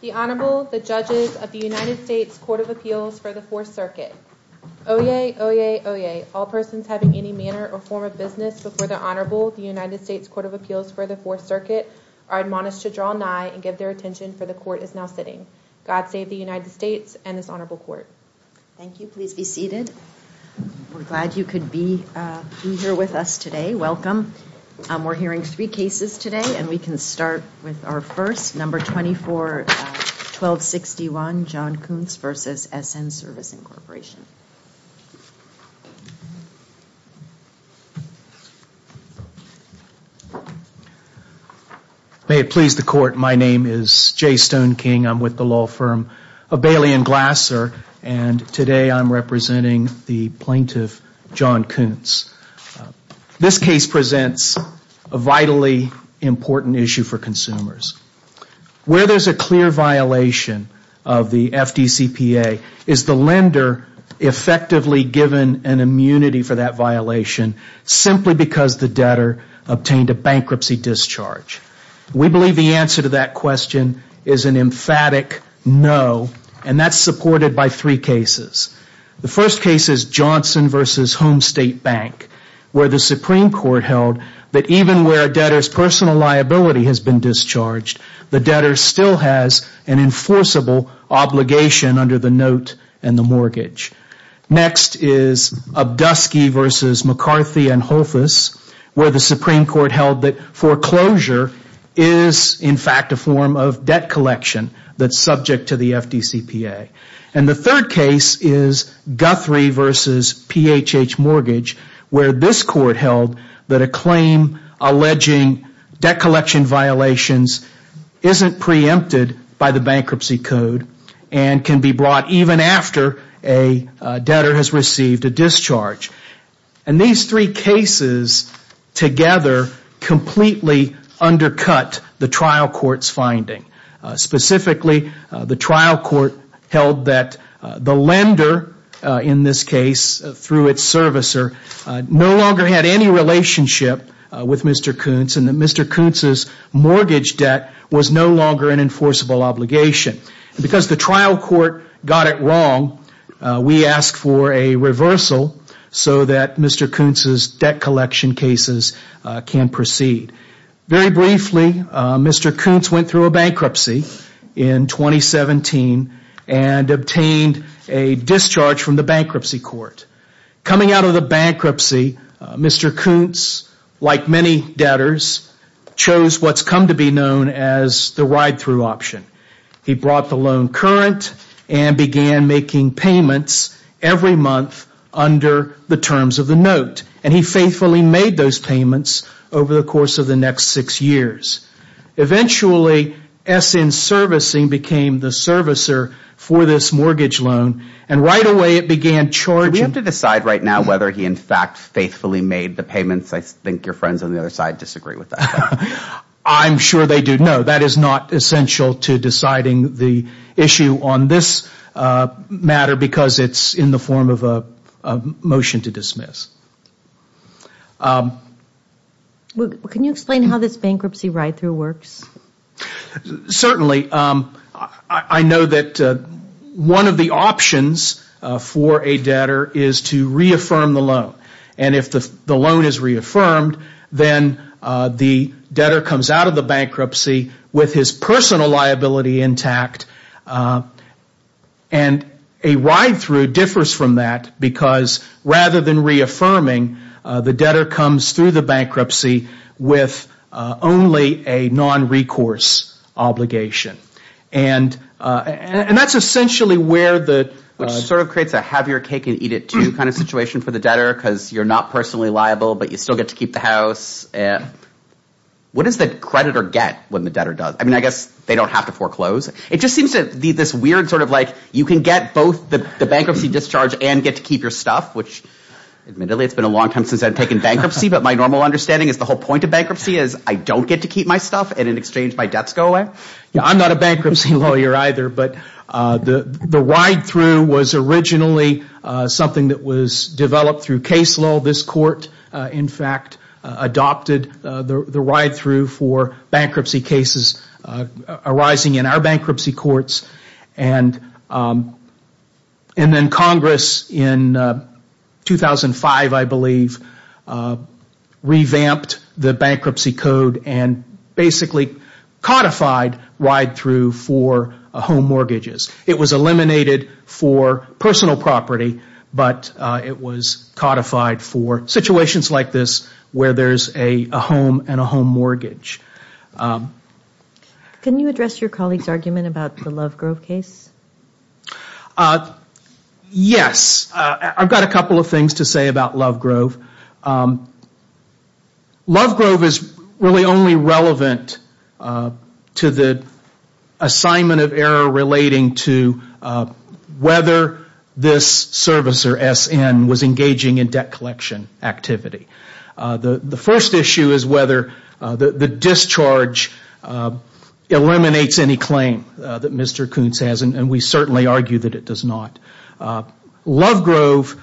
The Honorable, the Judges of the United States Court of Appeals for the Fourth Circuit. Oyez! Oyez! Oyez! All persons having any manner or form of business before the Honorable, the United States Court of Appeals for the Fourth Circuit, are admonished to draw nigh and give their attention, for the Court is now sitting. God save the United States and this Honorable Court. Thank you. Please be seated. We're glad you could be here with us today. Welcome. We're hearing three cases today and we can start with our first, number 24, 1261, John Koontz v. SN Servicing Corporation. May it please the Court, my name is Jay Stone King. I'm with the law firm of Bailey & Glasser and today I'm representing the plaintiff, John Koontz. This case presents a vitally important issue for consumers. Where there's a clear violation of the FDCPA, is the lender effectively given an immunity for that violation simply because the debtor obtained a bankruptcy discharge? We believe the answer to that question is an emphatic no and that's supported by three cases. The first case is Johnson v. Home State Bank, where the Supreme Court held that even where a debtor's personal liability has been discharged, the debtor still has an enforceable obligation under the note and the mortgage. Next is Obdusky v. McCarthy & Holfus, where the Supreme Court held that foreclosure is in fact a form of debt collection that's subject to the FDCPA. And the third case is Guthrie v. PHH Mortgage, where this Court held that a claim alleging debt collection violations isn't preempted by the bankruptcy code and can be brought even after a debtor has received a discharge. And these three cases together completely undercut the trial court's finding. Specifically, the trial court held that the lender, in this case through its servicer, no longer had any relationship with Mr. Koontz and that Mr. Koontz's mortgage debt was no longer an enforceable obligation. Because the trial court got it wrong, we asked for a reversal so that Mr. Koontz's debt collection cases can proceed. Very briefly, Mr. Koontz went through a bankruptcy in 2017 and obtained a discharge from the bankruptcy court. Coming out of the bankruptcy, Mr. Koontz, like many debtors, chose what's come to be known as the ride-through option. He brought the loan current and began making payments every month under the terms of the note. And he faithfully made those payments over the course of the next six years. Eventually, S.N. Servicing became the servicer for this mortgage loan and right away it began charging. Do we have to decide right now whether he in fact faithfully made the payments? I think your friends on the other side disagree with that. I'm sure they do. No, that is not essential to deciding the issue on this matter because it's in the form of a motion to dismiss. Can you explain how this bankruptcy ride-through works? Certainly. I know that one of the options for a debtor is to reaffirm the loan. And if the loan is reaffirmed, then the debtor comes out of the bankruptcy with his personal liability intact. And a ride-through differs from that because rather than reaffirming, the debtor comes through the bankruptcy with only a non-recourse obligation. And that's essentially where the... Which sort of creates a have your cake and eat it too kind of situation for the debtor because you're not personally liable but you still get to keep the house. What does the creditor get when the debtor does? I mean, I guess they don't have to foreclose. It just seems to be this weird sort of like you can get both the bankruptcy discharge and get to keep your stuff, which admittedly it's been a long time since I've taken bankruptcy, but my normal understanding is the whole point of bankruptcy is I don't get to keep my stuff and in exchange my debts go away. I'm not a bankruptcy lawyer either, but the ride-through was originally something that was developed through case law. This court, in fact, adopted the ride-through for bankruptcy cases arising in our bankruptcy courts. And then Congress in 2005, I believe, revamped the bankruptcy code and basically codified ride-through for home mortgages. It was eliminated for personal property, but it was codified for situations like this where there's a home and a home mortgage. Can you address your colleague's argument about the Lovegrove case? Yes. I've got a couple of things to say about Lovegrove. Lovegrove is really only relevant to the assignment of error relating to whether this service or SN was engaging in debt collection activity. The first issue is whether the discharge eliminates any claim that Mr. Koontz has, and we certainly argue that it does not. Lovegrove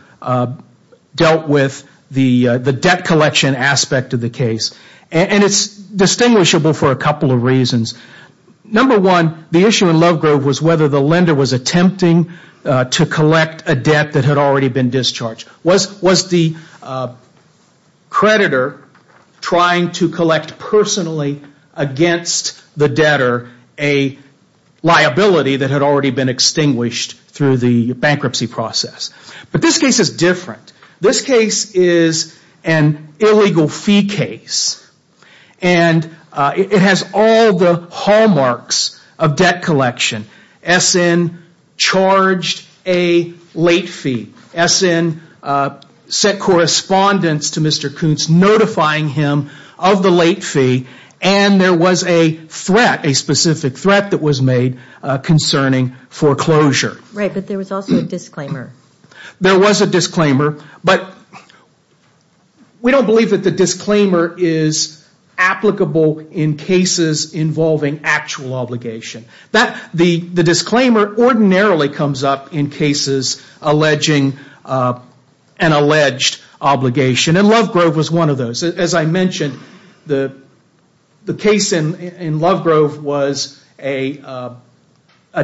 dealt with the debt collection aspect of the case, and it's distinguishable for a couple of reasons. Number one, the issue in Lovegrove was whether the lender was attempting to collect a debt that had already been discharged. Was the creditor trying to collect personally against the debtor a liability that had already been extinguished through the loan? But this case is different. This case is an illegal fee case, and it has all the hallmarks of debt collection. SN charged a late fee. SN sent correspondence to Mr. Koontz notifying him of the late fee, and there was a specific threat that was made concerning foreclosure. Right, but there was also a disclaimer. There was a disclaimer, but we don't believe that the disclaimer is applicable in cases involving actual obligation. The disclaimer ordinarily comes up in cases alleging an alleged obligation, and Lovegrove was one of those. As I mentioned, the case in Lovegrove was a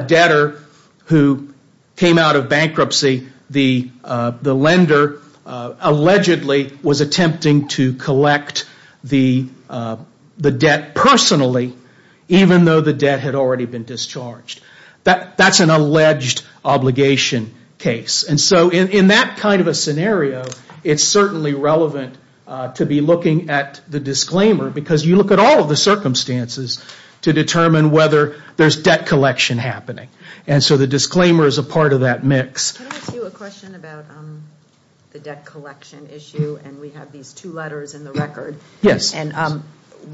debtor who had a debt of $1,000. When the loan came out of bankruptcy, the lender allegedly was attempting to collect the debt personally, even though the debt had already been discharged. That's an alleged obligation case, and so in that kind of a scenario, it's certainly relevant to be looking at the disclaimer, because you look at all of the circumstances to determine whether there's debt collection happening. The disclaimer is a part of that mix. What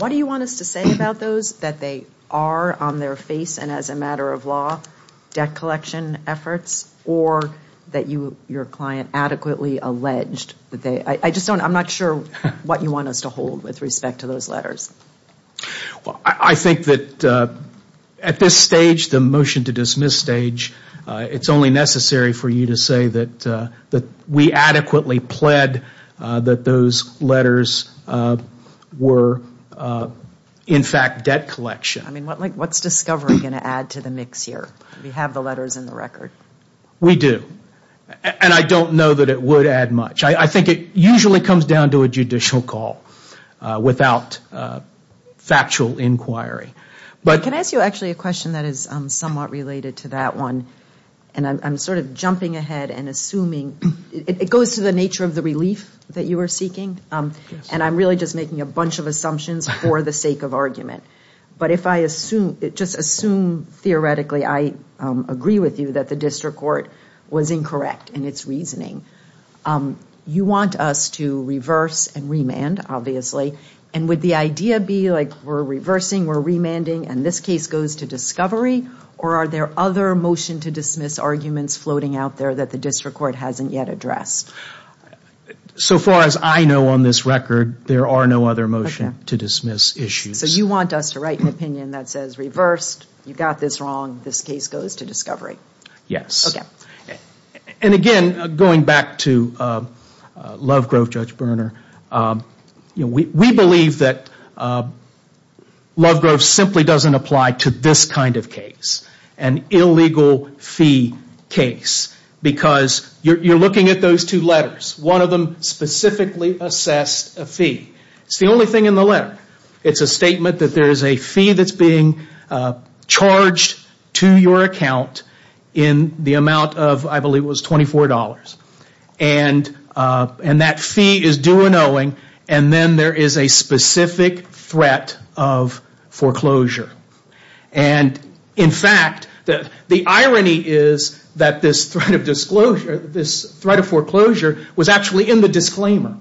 do you want us to say about those, that they are on their face and as a matter of law debt collection efforts, or that your client adequately alleged that they are? I'm not sure what you want us to hold with respect to those letters. I think that at this stage, the motion to dismiss stage, it's only necessary for you to say that we adequately pled that those letters were in fact debt collection. What's discovery going to add to the mix here? We have the letters in the record. We do, and I don't know that it would add much. Can I ask you a question that is somewhat related to that one? It goes to the nature of the relief that you are seeking, and I'm really just making a bunch of assumptions for the sake of argument. But just assume theoretically I agree with you that the district court was incorrect in its reasoning. You want us to reverse and remand, obviously, and would the idea be like we're reversing, we're remanding, and this case goes to discovery? Or are there other motion to dismiss arguments floating out there that the district court hasn't yet addressed? So far as I know on this record, there are no other motion to dismiss issues. So you want us to write an opinion that says reversed, you've got this wrong, this case goes to discovery? Yes. And again, going back to Lovegrove, Judge Berner, we believe that Lovegrove simply doesn't apply to this kind of case. An illegal fee case, because you're looking at those two letters. One of them specifically assessed a fee. It's the only thing in the letter. It's a statement that there is a fee that's being charged to your account in the amount of, I believe it was $24. And that fee is due an owing, and then there is a specific threat of foreclosure. And in fact, the irony is that this threat of foreclosure was actually in the disclaimer.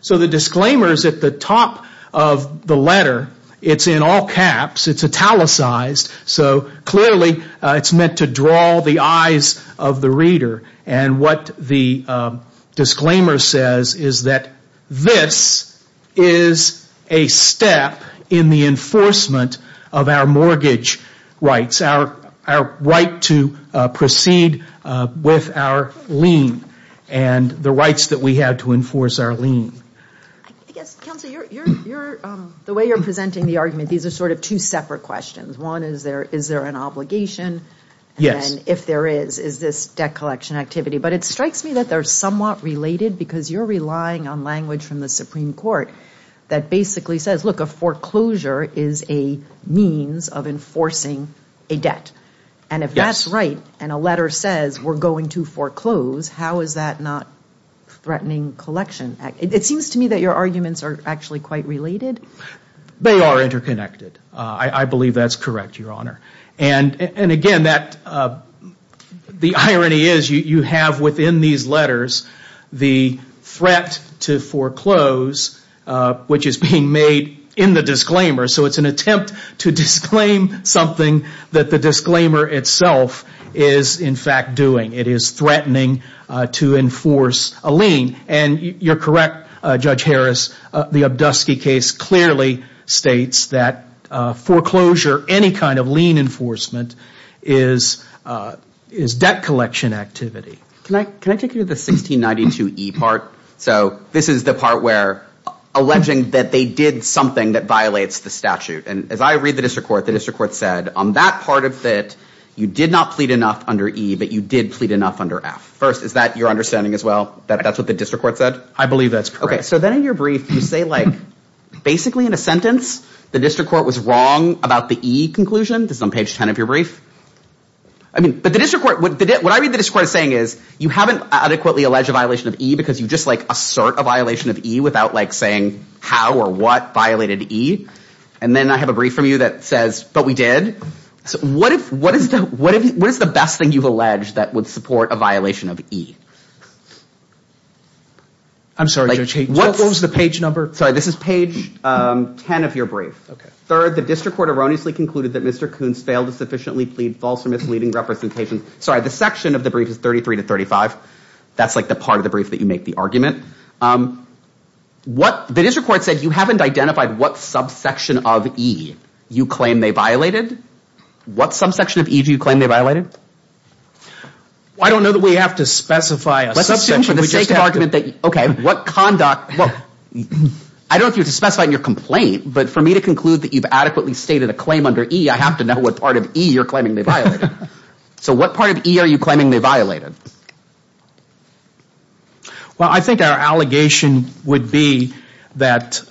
So the disclaimer is at the top of the letter. It's in all caps. It's italicized. So clearly, it's meant to draw the eyes of the reader. And what the disclaimer says is that this is a step in the enforcement of the law. Of our mortgage rights, our right to proceed with our lien, and the rights that we have to enforce our lien. I guess, Counselor, the way you're presenting the argument, these are sort of two separate questions. One is, is there an obligation? And if there is, is this debt collection activity? But it strikes me that they're somewhat related because you're relying on language from the Supreme Court that basically says, look, a foreclosure is a means of enforcing a debt. And if that's right, and a letter says we're going to foreclose, how is that not threatening collection? It seems to me that your arguments are actually quite related. They are interconnected. I believe that's correct, Your Honor. And again, the irony is you have within these letters the threat to foreclose, which is being made in the disclaimer. So it's an attempt to disclaim something that the disclaimer itself is in fact doing. It is threatening to enforce a lien. And you're correct, Judge Harris. The Obdusky case clearly states that foreclosure, any kind of lien enforcement, is debt collection activity. Can I take you to the 1692E part? So this is the part where alleging that they did something that violates the statute. And as I read the district court, the district court said, on that part of it, you did not plead enough under E, but you did plead enough under F. First, is that your understanding as well, that that's what the district court said? I believe that's correct. Okay. So then in your brief, you say, like, basically in a sentence, the district court was wrong about the E conclusion. This is on page 10 of your brief. I mean, but the district court, what I read the district court as saying is, you haven't adequately alleged a violation of E because you just like assert a violation of E without like saying how or what violated E. And then I have a brief from you that says, but we did. What is the best thing you've alleged that would support a violation of E? I'm sorry, Judge Haynes, what was the page number? Sorry, this is page 10 of your brief. Third, the district court erroneously concluded that Mr. Koonce failed to sufficiently plead false or misleading representations. Sorry, the section of the brief is 33 to 35. That's like the part of the brief that you make the argument. What the district court said, you haven't identified what subsection of E you claim they violated. What subsection of E do you claim they violated? I don't know that we have to specify a subsection. I don't know if you have to specify in your complaint, but for me to conclude that you've adequately stated a claim under E, I have to know what part of E you're claiming they violated. So what part of E are you claiming they violated? Well, I think our allegation would be that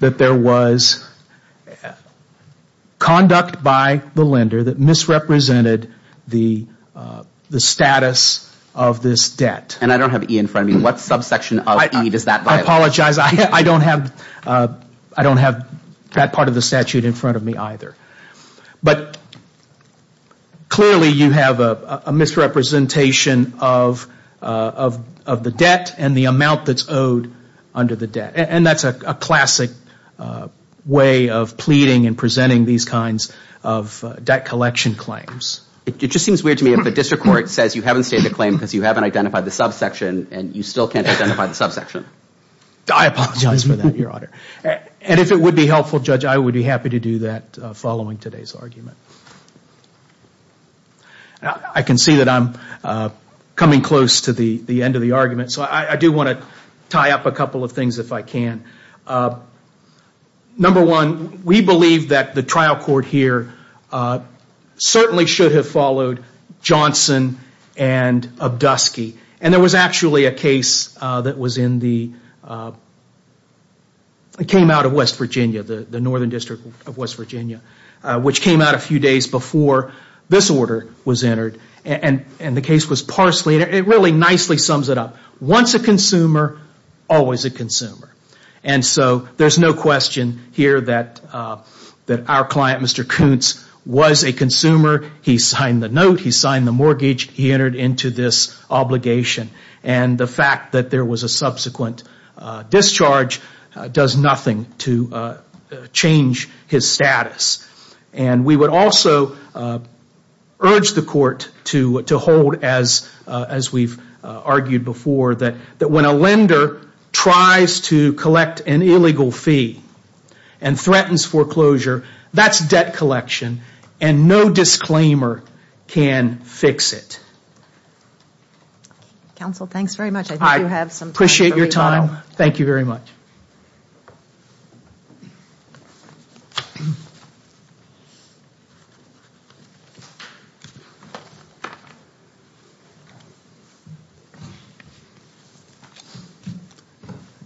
there was conduct by the lender that misrepresented the status of this debt. I don't have E in front of me. What subsection of E does that violate? I apologize. I don't have that part of the statute in front of me either. But clearly you have a misrepresentation of the debt and the amount that's owed under the debt. And that's a classic way of pleading and presenting these kinds of debt collection claims. It just seems weird to me if a district court says you haven't stated a claim because you haven't identified the subsection and you still can't identify the subsection. I apologize for that, Your Honor. And if it would be helpful, Judge, I would be happy to do that following today's argument. I can see that I'm coming close to the end of the argument, so I do want to tie up a couple of things if I can. Number one, we believe that the trial court here certainly should have followed Johnson and Obdusky. And there was actually a case that came out of West Virginia, the northern district of West Virginia, which came out a few days before this order was entered. And the case was Parsley. It really nicely sums it up. Once a consumer, always a consumer. And so there's no question here that our client, Mr. Koontz, was a consumer. He signed the note, he signed the mortgage, he entered into this obligation. And the fact that there was a subsequent discharge does nothing to change his status. And we would also urge the court to hold, as we've argued before, that when a lender tries to collect an illegal fee and threatens foreclosure, that's debt collection and no disclaimer can fix it. Counsel, thanks very much. I think you have some time for me now.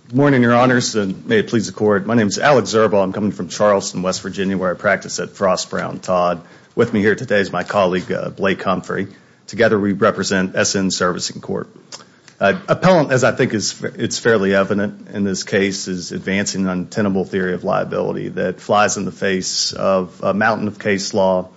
Good morning, Your Honors, and may it please the Court. My name is Alec Zerbaugh. I'm coming from Charleston, West Virginia, where I practice at Frost, Brown, Todd. With me here today is my colleague, Blake Humphrey. Together we represent S.N. Servicing Court. Appellant, as I think it's fairly evident in this case, is advancing an untenable theory of liability that flies in the face of a mountain of case law,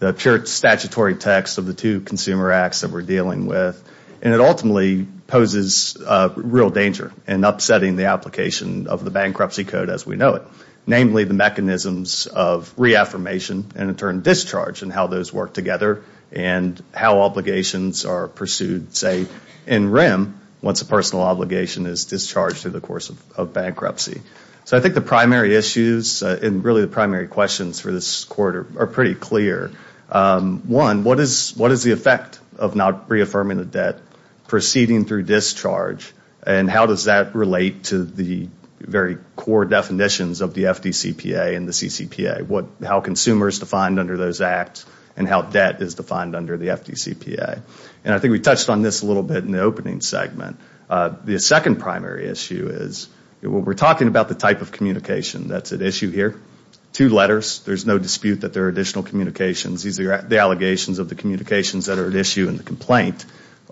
the pure statutory text of the two consumer acts that we're dealing with. And it ultimately poses real danger in upsetting the application of the bankruptcy code as we know it. Namely, the mechanisms of reaffirmation and in turn discharge and how those work together and how obligations are pursued, say, in REM once a personal obligation is discharged through the course of bankruptcy. So I think the primary issues and really the primary questions for this Court are pretty clear. One, what is the effect of not reaffirming the debt proceeding through discharge and how does that relate to the very core definitions of the FDCPA and the CCPA? How consumer is defined under those acts and how debt is defined under the FDCPA? And I think we touched on this a little bit in the opening segment. The second primary issue is we're talking about the type of communication that's at issue here. Two letters, there's no dispute that there are additional communications. These are the allegations of the communications that are at issue in the complaint.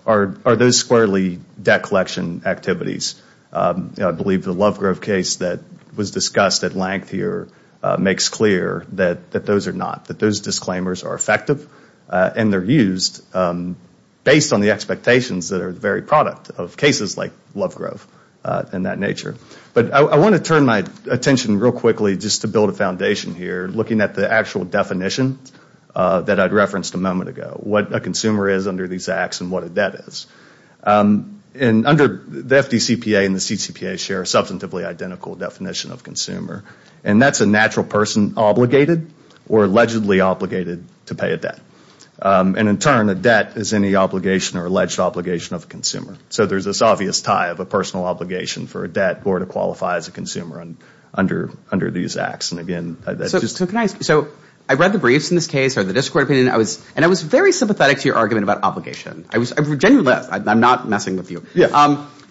Are those squarely debt collection activities? I believe the Lovegrove case that was discussed at length here makes clear that those are not. That those disclaimers are effective and they're used based on the expectations that are the very product of cases like Lovegrove and that nature. But I want to turn my attention real quickly just to build a foundation here looking at the actual definition that I referenced a moment ago. What a consumer is under these acts and what a debt is. Under the FDCPA and the CCPA share a substantively identical definition of consumer and that's a natural person obligated or allegedly obligated to pay a debt. And in turn a debt is any obligation or alleged obligation of a consumer. So there's this obvious tie of a personal obligation for a debt or to qualify as a consumer under these acts. So I read the briefs in this case or the district court opinion and I was very sympathetic to your argument about obligation. I'm not messing with you.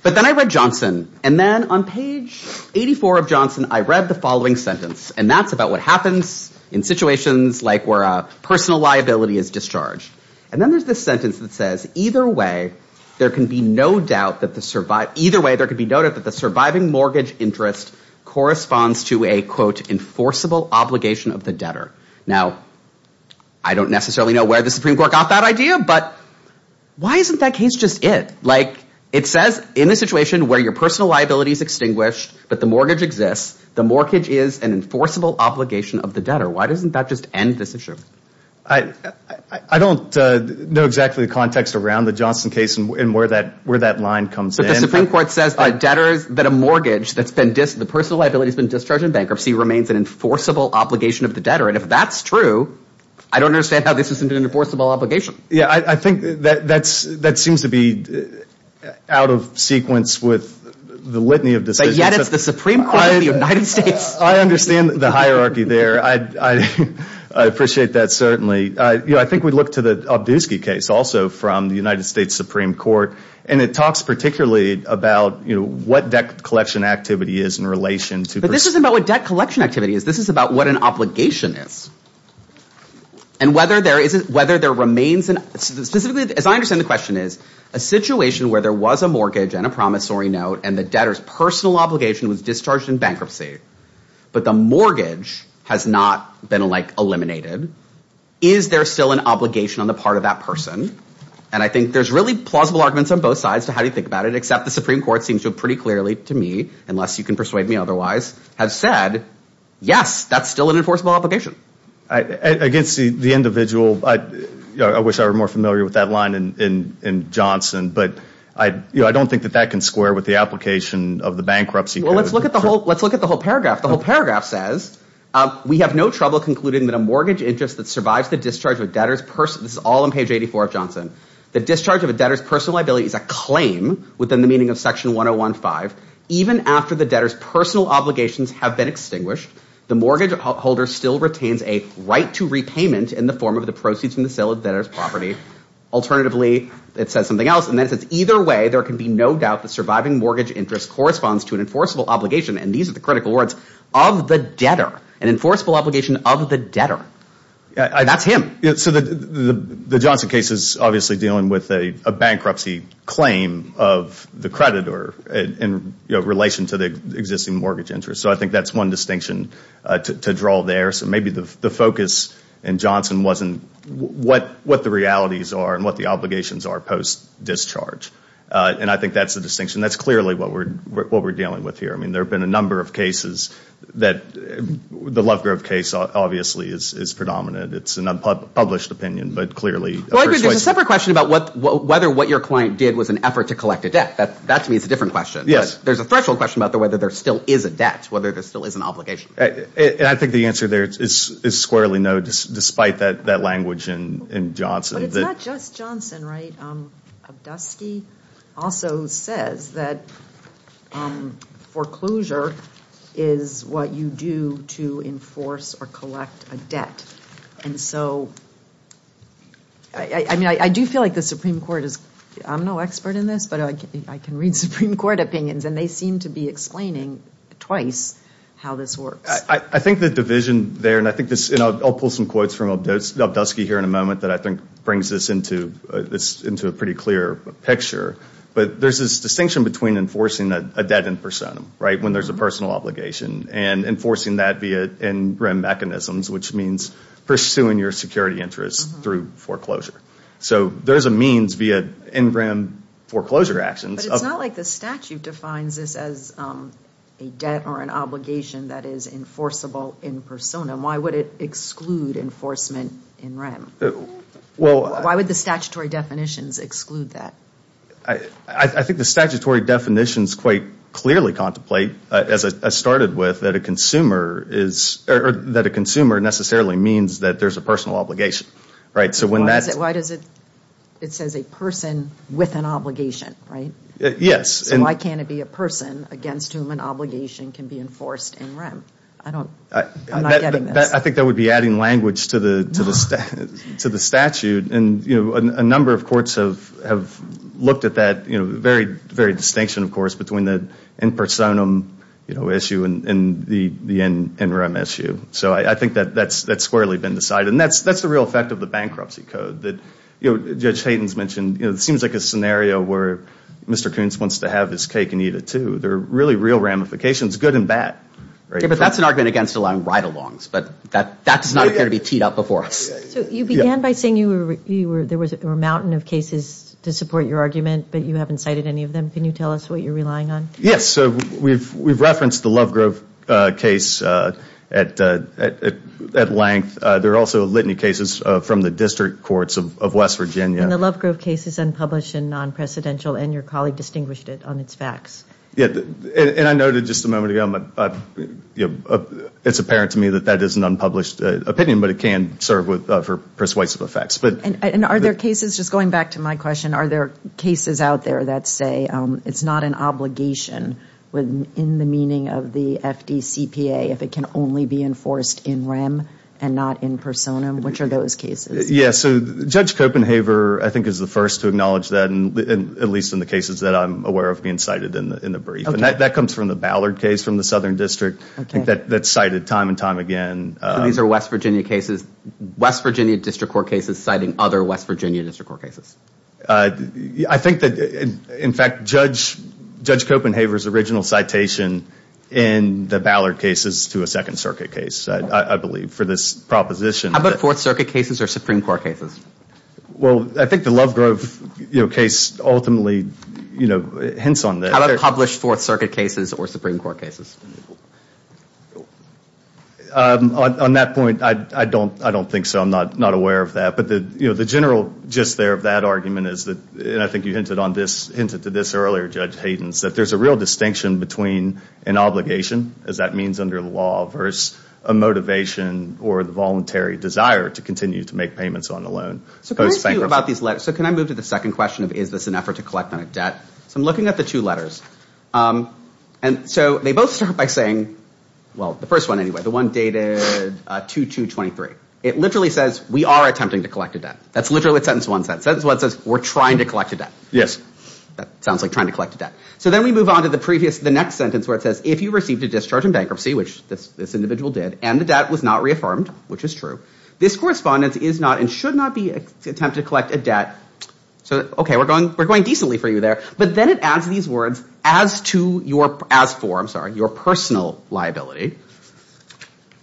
But then I read Johnson and then on page 84 of Johnson I read the following sentence and that's about what happens in situations like where a personal liability is discharged. And then there's this sentence that says either way there can be no doubt that the surviving mortgage interest corresponds to a quote enforceable obligation of the debtor. Now I don't necessarily know where the Supreme Court got that idea but why isn't that case just it? Like it says in a situation where your personal liability is extinguished but the mortgage exists, the mortgage is an enforceable obligation of the debtor. Why doesn't that just end this issue? I don't know exactly the context around the Johnson case and where that line comes in. But the Supreme Court says that debtors, that a mortgage that's been, the personal liability has been discharged in bankruptcy remains an enforceable obligation of the debtor. And if that's true, I don't understand how this isn't an enforceable obligation. Yeah, I think that seems to be out of sequence with the litany of decisions. But yet it's the Supreme Court of the United States. I understand the hierarchy there. I appreciate that certainly. I think we look to the Obdusky case also from the United States Supreme Court and it talks particularly about what debt collection activity is in relation to... But this isn't about what debt collection activity is. This is about what an obligation is. And whether there remains, specifically as I understand the question is, a situation where there was a mortgage and a promissory note and the debtor's personal obligation was discharged in bankruptcy, but the mortgage has not been eliminated. Is there still an obligation on the part of that person? And I think there's really plausible arguments on both sides to how you think about it, except the Supreme Court seems to have pretty clearly to me, unless you can persuade me otherwise, have said, yes, that's still an enforceable obligation. Against the individual, I wish I were more familiar with that line in Johnson, but I don't think that that can square with the application of the bankruptcy. Well, let's look at the whole paragraph. The whole paragraph says, of the debtor, an enforceable obligation of the debtor. That's him. So the Johnson case is obviously dealing with a bankruptcy claim of the creditor in relation to the existing mortgage interest. So I think that's one distinction to draw there. So maybe the focus in Johnson wasn't what the realities are and what the obligations are post-discharge. And I think that's the distinction. That's clearly what we're dealing with here. I mean, there have been a number of cases that the Lovegrove case obviously is predominant. It's an unpublished opinion, but clearly persuasive. There's a separate question about whether what your client did was an effort to collect a debt. That to me is a different question. I think the answer there is squarely no, despite that language in Johnson. But it's not just Johnson, right? Obdusky also says that foreclosure is what you do to enforce or collect a debt. And so, I mean, I do feel like the Supreme Court is, I'm no expert in this, but I can read Supreme Court opinions. And they seem to be explaining twice how this works. I think the division there, and I'll pull some quotes from Obdusky here in a moment that I think brings this into a pretty clear picture. But there's this distinction between enforcing a debt in personam, right, when there's a personal obligation. And enforcing that via NREM mechanisms, which means pursuing your security interests through foreclosure. So there's a means via NREM foreclosure actions. But it's not like the statute defines this as a debt or an obligation that is enforceable in personam. Why would it exclude enforcement in REM? Why would the statutory definitions exclude that? I think the statutory definitions quite clearly contemplate, as I started with, that a consumer necessarily means that there's a personal obligation. It says a person with an obligation, right? I think that would be adding language to the statute. And a number of courts have looked at that very distinction, of course, between the in personam issue and the NREM issue. So I think that's squarely been decided. And that's the real effect of the bankruptcy code that Judge Hayden's mentioned. It seems like a scenario where Mr. Koontz wants to have his cake and eat it, too. There are really real ramifications, good and bad. But that's an argument against allowing ride-alongs, but that does not appear to be teed up before us. So you began by saying there were a mountain of cases to support your argument, but you haven't cited any of them. Can you tell us what you're relying on? Yes. We've referenced the Lovegrove case at length. There are also litany cases from the district courts of West Virginia. And the Lovegrove case is unpublished and non-presidential, and your colleague distinguished it on its facts. And I noted just a moment ago, it's apparent to me that that is an unpublished opinion, but it can serve for persuasive effects. And are there cases, just going back to my question, are there cases out there that say it's not an obligation in the meaning of the FDCPA if it can only be enforced in REM and not in personam? Which are those cases? Yes. So Judge Copenhaver, I think, is the first to acknowledge that, at least in the cases that I'm aware of being cited in the brief. And that comes from the Ballard case from the Southern District that's cited time and time again. These are West Virginia cases, West Virginia district court cases citing other West Virginia district court cases? I think that, in fact, Judge Copenhaver's original citation in the Ballard case is to a Second Circuit case, I believe, for this proposition. How about Fourth Circuit cases or Supreme Court cases? Well, I think the Lovegrove case ultimately hints on that. How about published Fourth Circuit cases or Supreme Court cases? On that point, I don't think so. I'm not aware of that. But the general gist there of that argument is that, and I think you hinted to this earlier, Judge Hayden, is that there's a real distinction between an obligation, as that means under the law, versus a motivation or the voluntary desire to continue to make payments on a loan. So can I move to the second question of is this an effort to collect on a debt? So I'm looking at the two letters. And so they both start by saying, well, the first one anyway, the one dated 2-2-23. It literally says we are attempting to collect a debt. That's literally what sentence one says. We're trying to collect a debt. That sounds like trying to collect a debt. So then we move on to the next sentence where it says, if you received a discharge in bankruptcy, which this individual did, and the debt was not reaffirmed, which is true, this correspondence is not and should not be an attempt to collect a debt. So, okay, we're going decently for you there. But then it adds these words, as to your, as for, I'm sorry, your personal liability.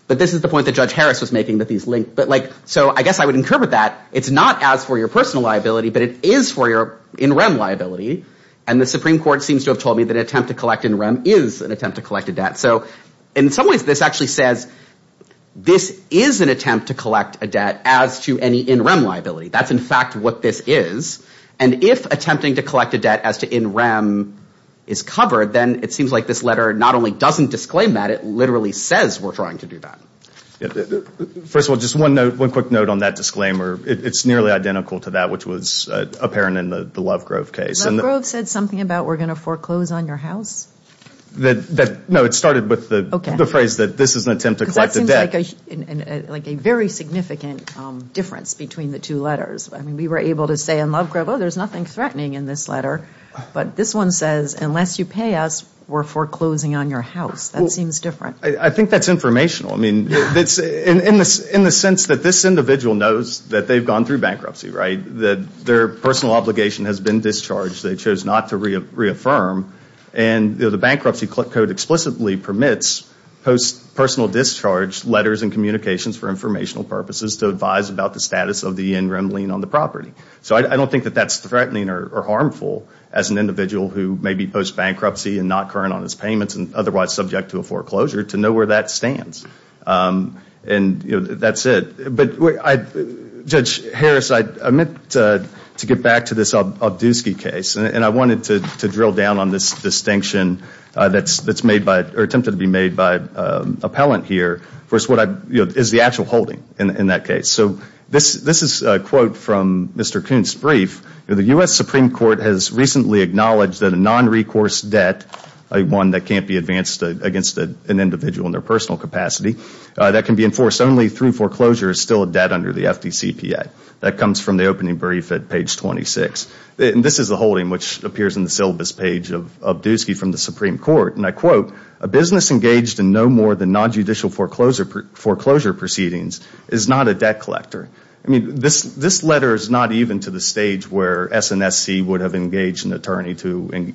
But this is the point that Judge Harris was making that these link. So I guess I would incorporate that. It's not as for your personal liability, but it is for your in rem liability. And the Supreme Court seems to have told me that an attempt to collect in rem is an attempt to collect a debt. So in some ways, this actually says this is an attempt to collect a debt as to any in rem liability. That's, in fact, what this is. And if attempting to collect a debt as to in rem is covered, then it seems like this letter not only doesn't disclaim that, it literally says we're trying to do that. First of all, just one note, one quick note on that disclaimer. It's nearly identical to that, which was apparent in the Lovegrove case. Lovegrove said something about we're going to foreclose on your house. No, it started with the phrase that this is an attempt to collect a debt. Because that seems like a very significant difference between the two letters. I mean, we were able to say in Lovegrove, oh, there's nothing threatening in this letter. But this one says unless you pay us, we're foreclosing on your house. That seems different. I think that's informational. I mean, in the sense that this individual knows that they've gone through bankruptcy, right? That their personal obligation has been discharged. They chose not to reaffirm. And the bankruptcy code explicitly permits post-personal discharge letters and communications for informational purposes to advise about the status of the in rem lien on the property. So I don't think that that's threatening or harmful as an individual who may be post-bankruptcy and not current on his payments and otherwise subject to a foreclosure to know where that stands. And that's it. Judge Harris, I meant to get back to this Obdusky case. And I wanted to drill down on this distinction that's attempted to be made by appellant here. First, what is the actual holding in that case? So this is a quote from Mr. Kuhn's brief. The U.S. Supreme Court has recently acknowledged that a non-recourse debt, one that can't be advanced against an individual in their personal capacity, that can be enforced only through foreclosure is still a debt under the FDCPA. That comes from the opening brief at page 26. And this is the holding which appears in the syllabus page of Obdusky from the Supreme Court. And I quote, a business engaged in no more than non-judicial foreclosure proceedings is not a debt collector. I mean, this letter is not even to the stage where SNSC would have engaged an attorney to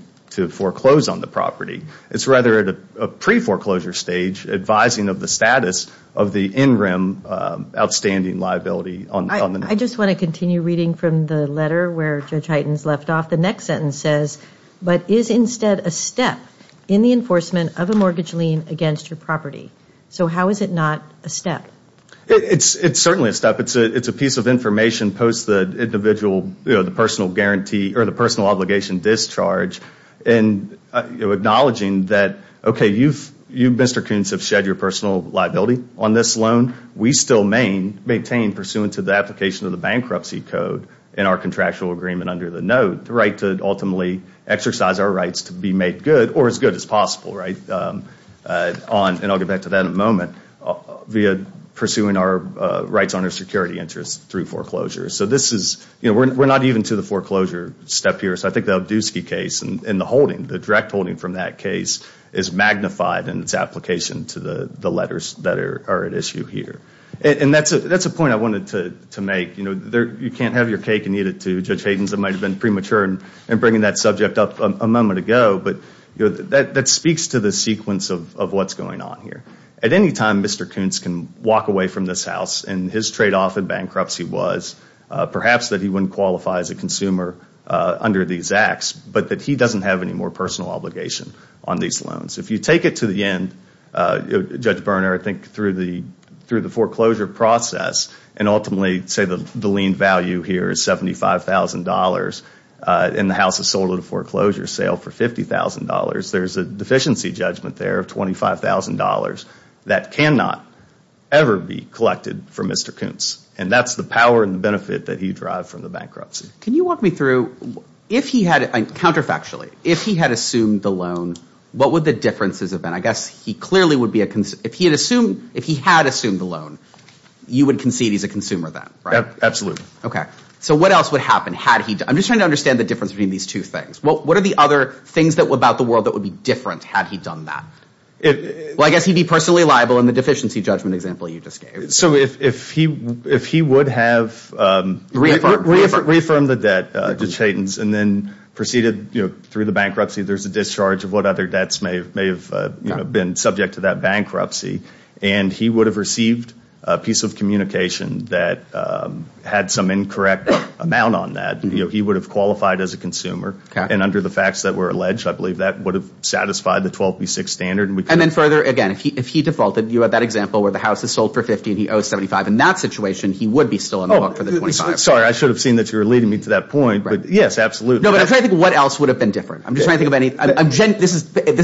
foreclose on the property. It's rather at a pre-foreclosure stage advising of the status of the in-rim outstanding liability. I just want to continue reading from the letter where Judge Hytens left off. The next sentence says, but is instead a step in the enforcement of a mortgage lien against your property? So how is it not a step? It's certainly a step. It's a piece of information post the individual, the personal guarantee or the personal obligation discharge. And acknowledging that, okay, you, Mr. Koonce, have shed your personal liability on this loan. We still maintain, pursuant to the application of the bankruptcy code in our contractual agreement under the note, the right to ultimately exercise our rights to be made good or as good as possible, right? And I'll get back to that in a moment via pursuing our rights under security interest through foreclosure. So this is, you know, we're not even to the foreclosure step here. So I think the Obdusky case and the holding, the direct holding from that case, is magnified in its application to the letters that are at issue here. And that's a point I wanted to make. You know, you can't have your cake and eat it too. Judge Hytens might have been premature in bringing that subject up a moment ago, but that speaks to the sequence of what's going on here. At any time, Mr. Koonce can walk away from this house, and his tradeoff in bankruptcy was perhaps that he wouldn't qualify as a consumer under these acts, but that he doesn't have any more personal obligation on these loans. If you take it to the end, Judge Berner, I think through the foreclosure process, and ultimately say the lien value here is $75,000 and the house is sold at a foreclosure sale for $50,000, there's a deficiency judgment there of $25,000 that cannot ever be collected from Mr. Koonce. And that's the power and the benefit that he derived from the bankruptcy. Can you walk me through, if he had, counterfactually, if he had assumed the loan, what would the differences have been? I guess he clearly would be a, if he had assumed, if he had assumed the loan, you would concede he's a consumer then, right? Absolutely. Okay. So what else would happen had he, I'm just trying to understand the difference between these two things. What are the other things about the world that would be different had he done that? Well, I guess he'd be personally liable in the deficiency judgment example you just gave. So if he would have reaffirmed the debt to Chatons and then proceeded through the bankruptcy, there's a discharge of what other debts may have been subject to that bankruptcy, and he would have received a piece of communication that had some incorrect amount on that, he would have qualified as a consumer, and under the facts that were alleged, I believe that would have satisfied the 12B6 standard. And then further, again, if he defaulted, you had that example where the house is sold for 50 and he owes 75. In that situation, he would be still on the hook for the 25. Sorry, I should have seen that you were leading me to that point, but yes, absolutely. No, but I'm trying to think what else would have been different. I'm just trying to think of any, this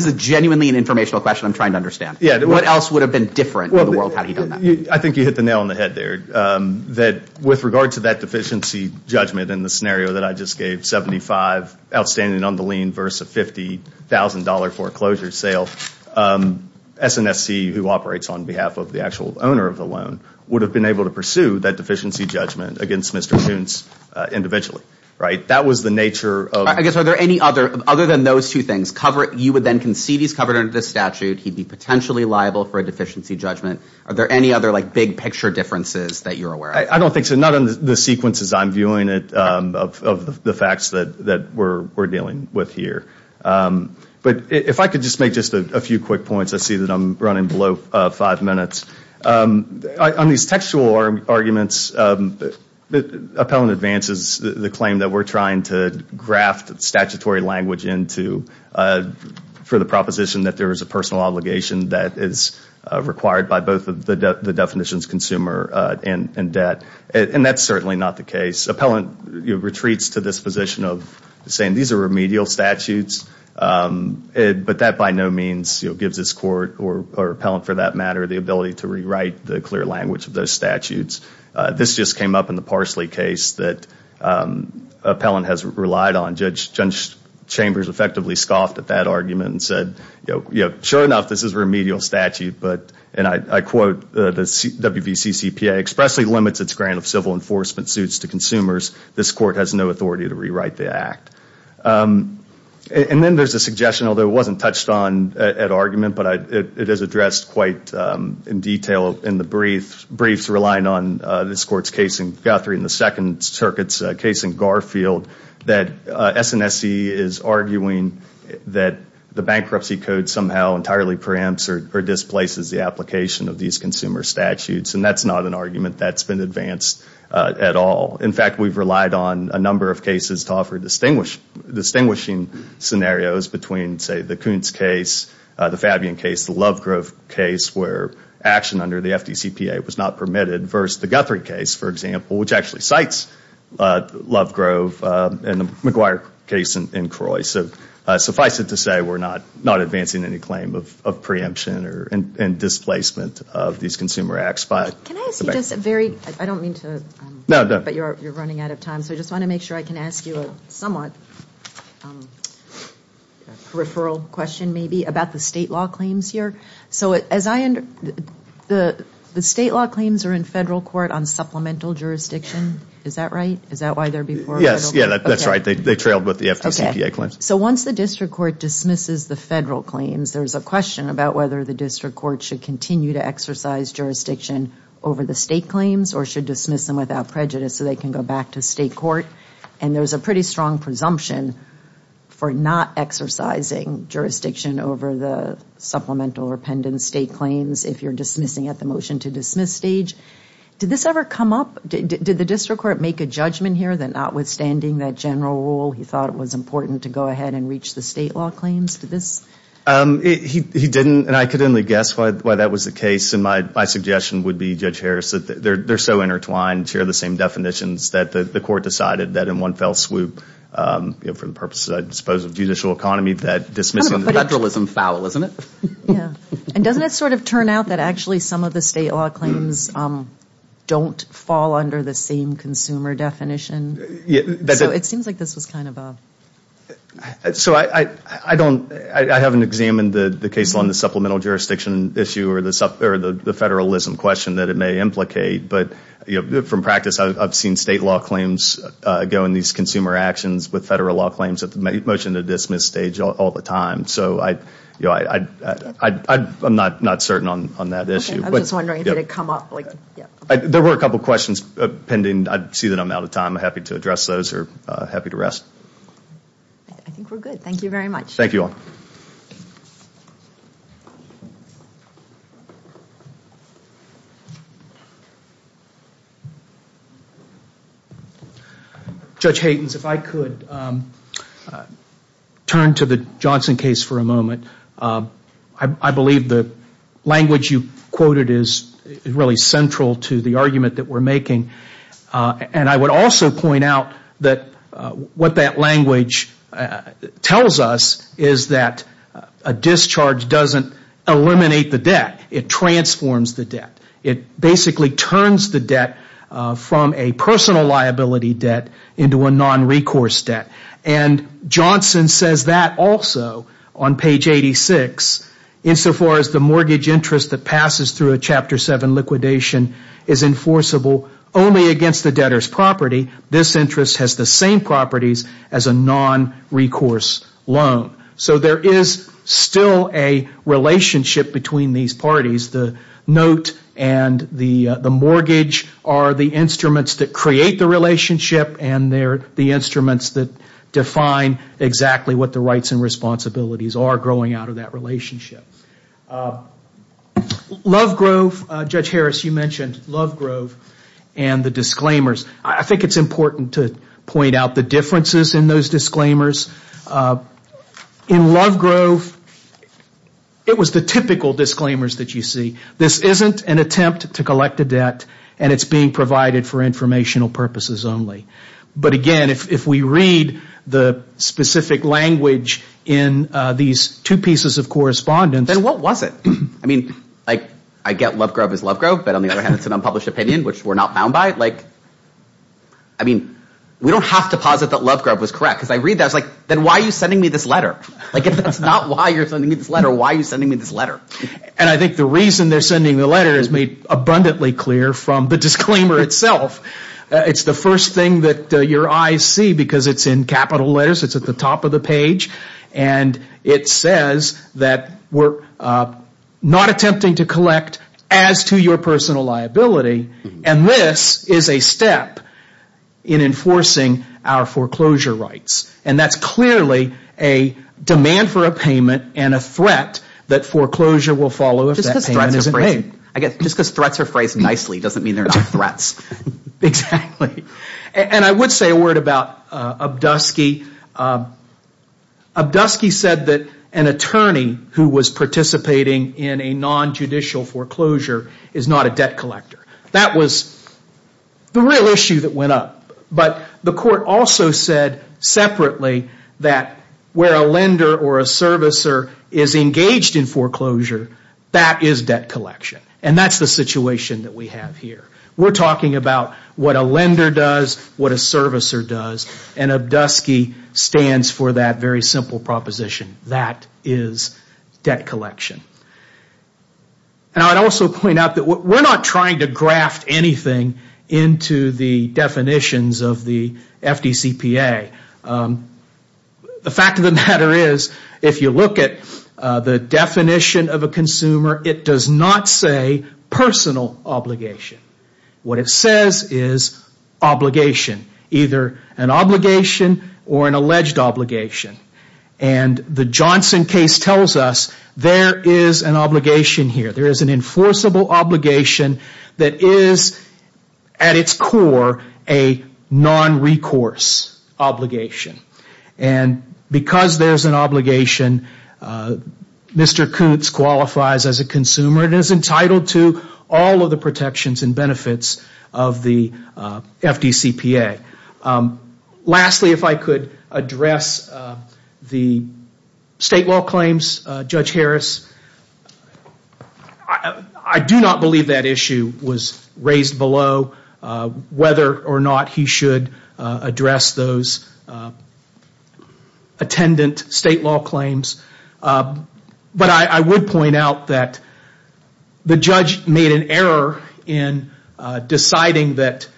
is genuinely an informational question I'm trying to understand. What else would have been different in the world had he done that? I think you hit the nail on the head there, that with regard to that deficiency judgment and the scenario that I just gave, 75 outstanding on the lien versus a $50,000 foreclosure sale, SNSC, who operates on behalf of the actual owner of the loan, would have been able to pursue that deficiency judgment against Mr. Shuntz individually, right? That was the nature of – I guess are there any other, other than those two things, you would then concede he's covered under the statute, he'd be potentially liable for a deficiency judgment. Are there any other big picture differences that you're aware of? I don't think so. Not in the sequences I'm viewing of the facts that we're dealing with here. But if I could just make just a few quick points, I see that I'm running below five minutes. On these textual arguments, appellant advances the claim that we're trying to graft statutory language into for the proposition that there is a personal obligation that is required by both the definitions consumer and debt. And that's certainly not the case. Appellant retreats to this position of saying these are remedial statutes, but that by no means gives this court or appellant, for that matter, the ability to rewrite the clear language of those statutes. This just came up in the Parsley case that appellant has relied on. Judge Chambers effectively scoffed at that argument and said, sure enough, this is a remedial statute. And I quote, the WVCCPA expressly limits its grant of civil enforcement suits to consumers. This court has no authority to rewrite the act. And then there's a suggestion, although it wasn't touched on at argument, but it is addressed quite in detail in the briefs relying on this court's case in Guthrie and the Second Circuit's case in Garfield that SNSE is arguing that the bankruptcy code somehow entirely preempts or displaces the application of these consumer statutes. And that's not an argument that's been advanced at all. In fact, we've relied on a number of cases to offer distinguishing scenarios between, say, the Kuntz case, the Fabian case, the Lovegrove case where action under the FDCPA was not permitted, versus the Guthrie case, for example, which actually cites Lovegrove and the McGuire case in Croy. So suffice it to say, we're not advancing any claim of preemption and displacement of these consumer acts. Can I ask you just a very, I don't mean to, but you're running out of time, so I just want to make sure I can ask you a somewhat peripheral question maybe about the state law claims here. So the state law claims are in federal court on supplemental jurisdiction, is that right? Is that why they're before federal court? Yes, yeah, that's right. They trailed with the FDCPA claims. Okay. So once the district court dismisses the federal claims, there's a question about whether the district court should continue to exercise jurisdiction over the state claims or should dismiss them without prejudice so they can go back to state court. And there's a pretty strong presumption for not exercising jurisdiction over the supplemental repentance state claims if you're dismissing at the motion to dismiss stage. Did this ever come up? Did the district court make a judgment here that notwithstanding that general rule, he thought it was important to go ahead and reach the state law claims? Did this? He didn't, and I could only guess why that was the case, and my suggestion would be, Judge Harris, they're so intertwined, share the same definitions, that the court decided that in one fell swoop, for the purposes, I suppose, of judicial economy, that dismissing the federalism foul, isn't it? Yeah, and doesn't it sort of turn out that actually some of the state law claims don't fall under the same consumer definition? So it seems like this was kind of a... So I haven't examined the case on the supplemental jurisdiction issue or the federalism question that it may implicate, but from practice, I've seen state law claims go in these consumer actions with federal law claims at the motion to dismiss stage all the time. So I'm not certain on that issue. I was just wondering if it had come up. There were a couple of questions pending. I see that I'm out of time. I'm happy to address those or happy to rest. I think we're good. Thank you very much. Thank you all. Judge Haytens, if I could turn to the Johnson case for a moment. I believe the language you quoted is really central to the argument that we're making, and I would also point out that what that language tells us is that a discharge doesn't eliminate the debt. It transforms the debt. It basically turns the debt from a personal liability debt into a non-recourse debt, and Johnson says that also on page 86, insofar as the mortgage interest that passes through a Chapter 7 liquidation is enforceable only against the debtor's property. This interest has the same properties as a non-recourse loan. So there is still a relationship between these parties. The note and the mortgage are the instruments that create the relationship and they're the instruments that define exactly what the rights and responsibilities are growing out of that relationship. Lovegrove, Judge Harris, you mentioned Lovegrove and the disclaimers. I think it's important to point out the differences in those disclaimers. In Lovegrove, it was the typical disclaimers that you see. This isn't an attempt to collect a debt and it's being provided for informational purposes only. But again, if we read the specific language in these two pieces of correspondence. Then what was it? I mean, I get Lovegrove is Lovegrove, but on the other hand, it's an unpublished opinion, which we're not bound by. I mean, we don't have to posit that Lovegrove was correct. Because I read that, I was like, then why are you sending me this letter? If that's not why you're sending me this letter, why are you sending me this letter? And I think the reason they're sending the letter is made abundantly clear from the disclaimer itself. It's the first thing that your eyes see because it's in capital letters. It's at the top of the page. And it says that we're not attempting to collect as to your personal liability. And this is a step in enforcing our foreclosure rights. And that's clearly a demand for a payment and a threat that foreclosure will follow if that payment isn't made. Just because threats are phrased nicely doesn't mean they're not threats. Exactly. And I would say a word about Obdusky. Obdusky said that an attorney who was participating in a non-judicial foreclosure is not a debt collector. That was the real issue that went up. But the court also said separately that where a lender or a servicer is engaged in foreclosure, that is debt collection. And that's the situation that we have here. We're talking about what a lender does, what a servicer does. And Obdusky stands for that very simple proposition. That is debt collection. And I'd also point out that we're not trying to graft anything into the definitions of the FDCPA. The fact of the matter is if you look at the definition of a consumer, it does not say personal obligation. What it says is obligation. Either an obligation or an alleged obligation. And the Johnson case tells us there is an obligation here. There is an enforceable obligation that is at its core a non-recourse obligation. And because there's an obligation, Mr. Coots qualifies as a consumer and is entitled to all of the protections and benefits of the FDCPA. Lastly, if I could address the state law claims. Judge Harris, I do not believe that issue was raised below whether or not he should address those attendant state law claims. But I would point out that the judge made an error in deciding that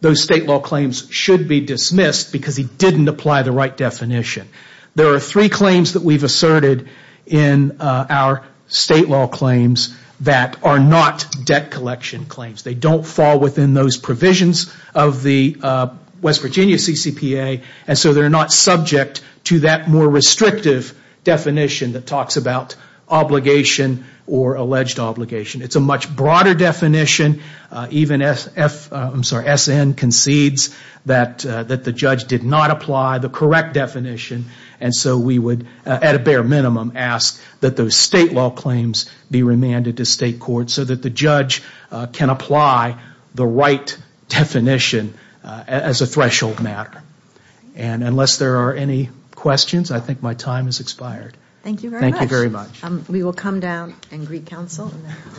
those state law claims should be dismissed because he didn't apply the right definition. There are three claims that we've asserted in our state law claims that are not debt collection claims. They don't fall within those provisions of the West Virginia CCPA. And so they're not subject to that more restrictive definition that talks about obligation or alleged obligation. It's a much broader definition. Even SN concedes that the judge did not apply the correct definition. And so we would, at a bare minimum, ask that those state law claims be remanded to state court so that the judge can apply the right definition as a threshold matter. And unless there are any questions, I think my time has expired. Thank you very much. We will come down and greet counsel and then move on to our next case.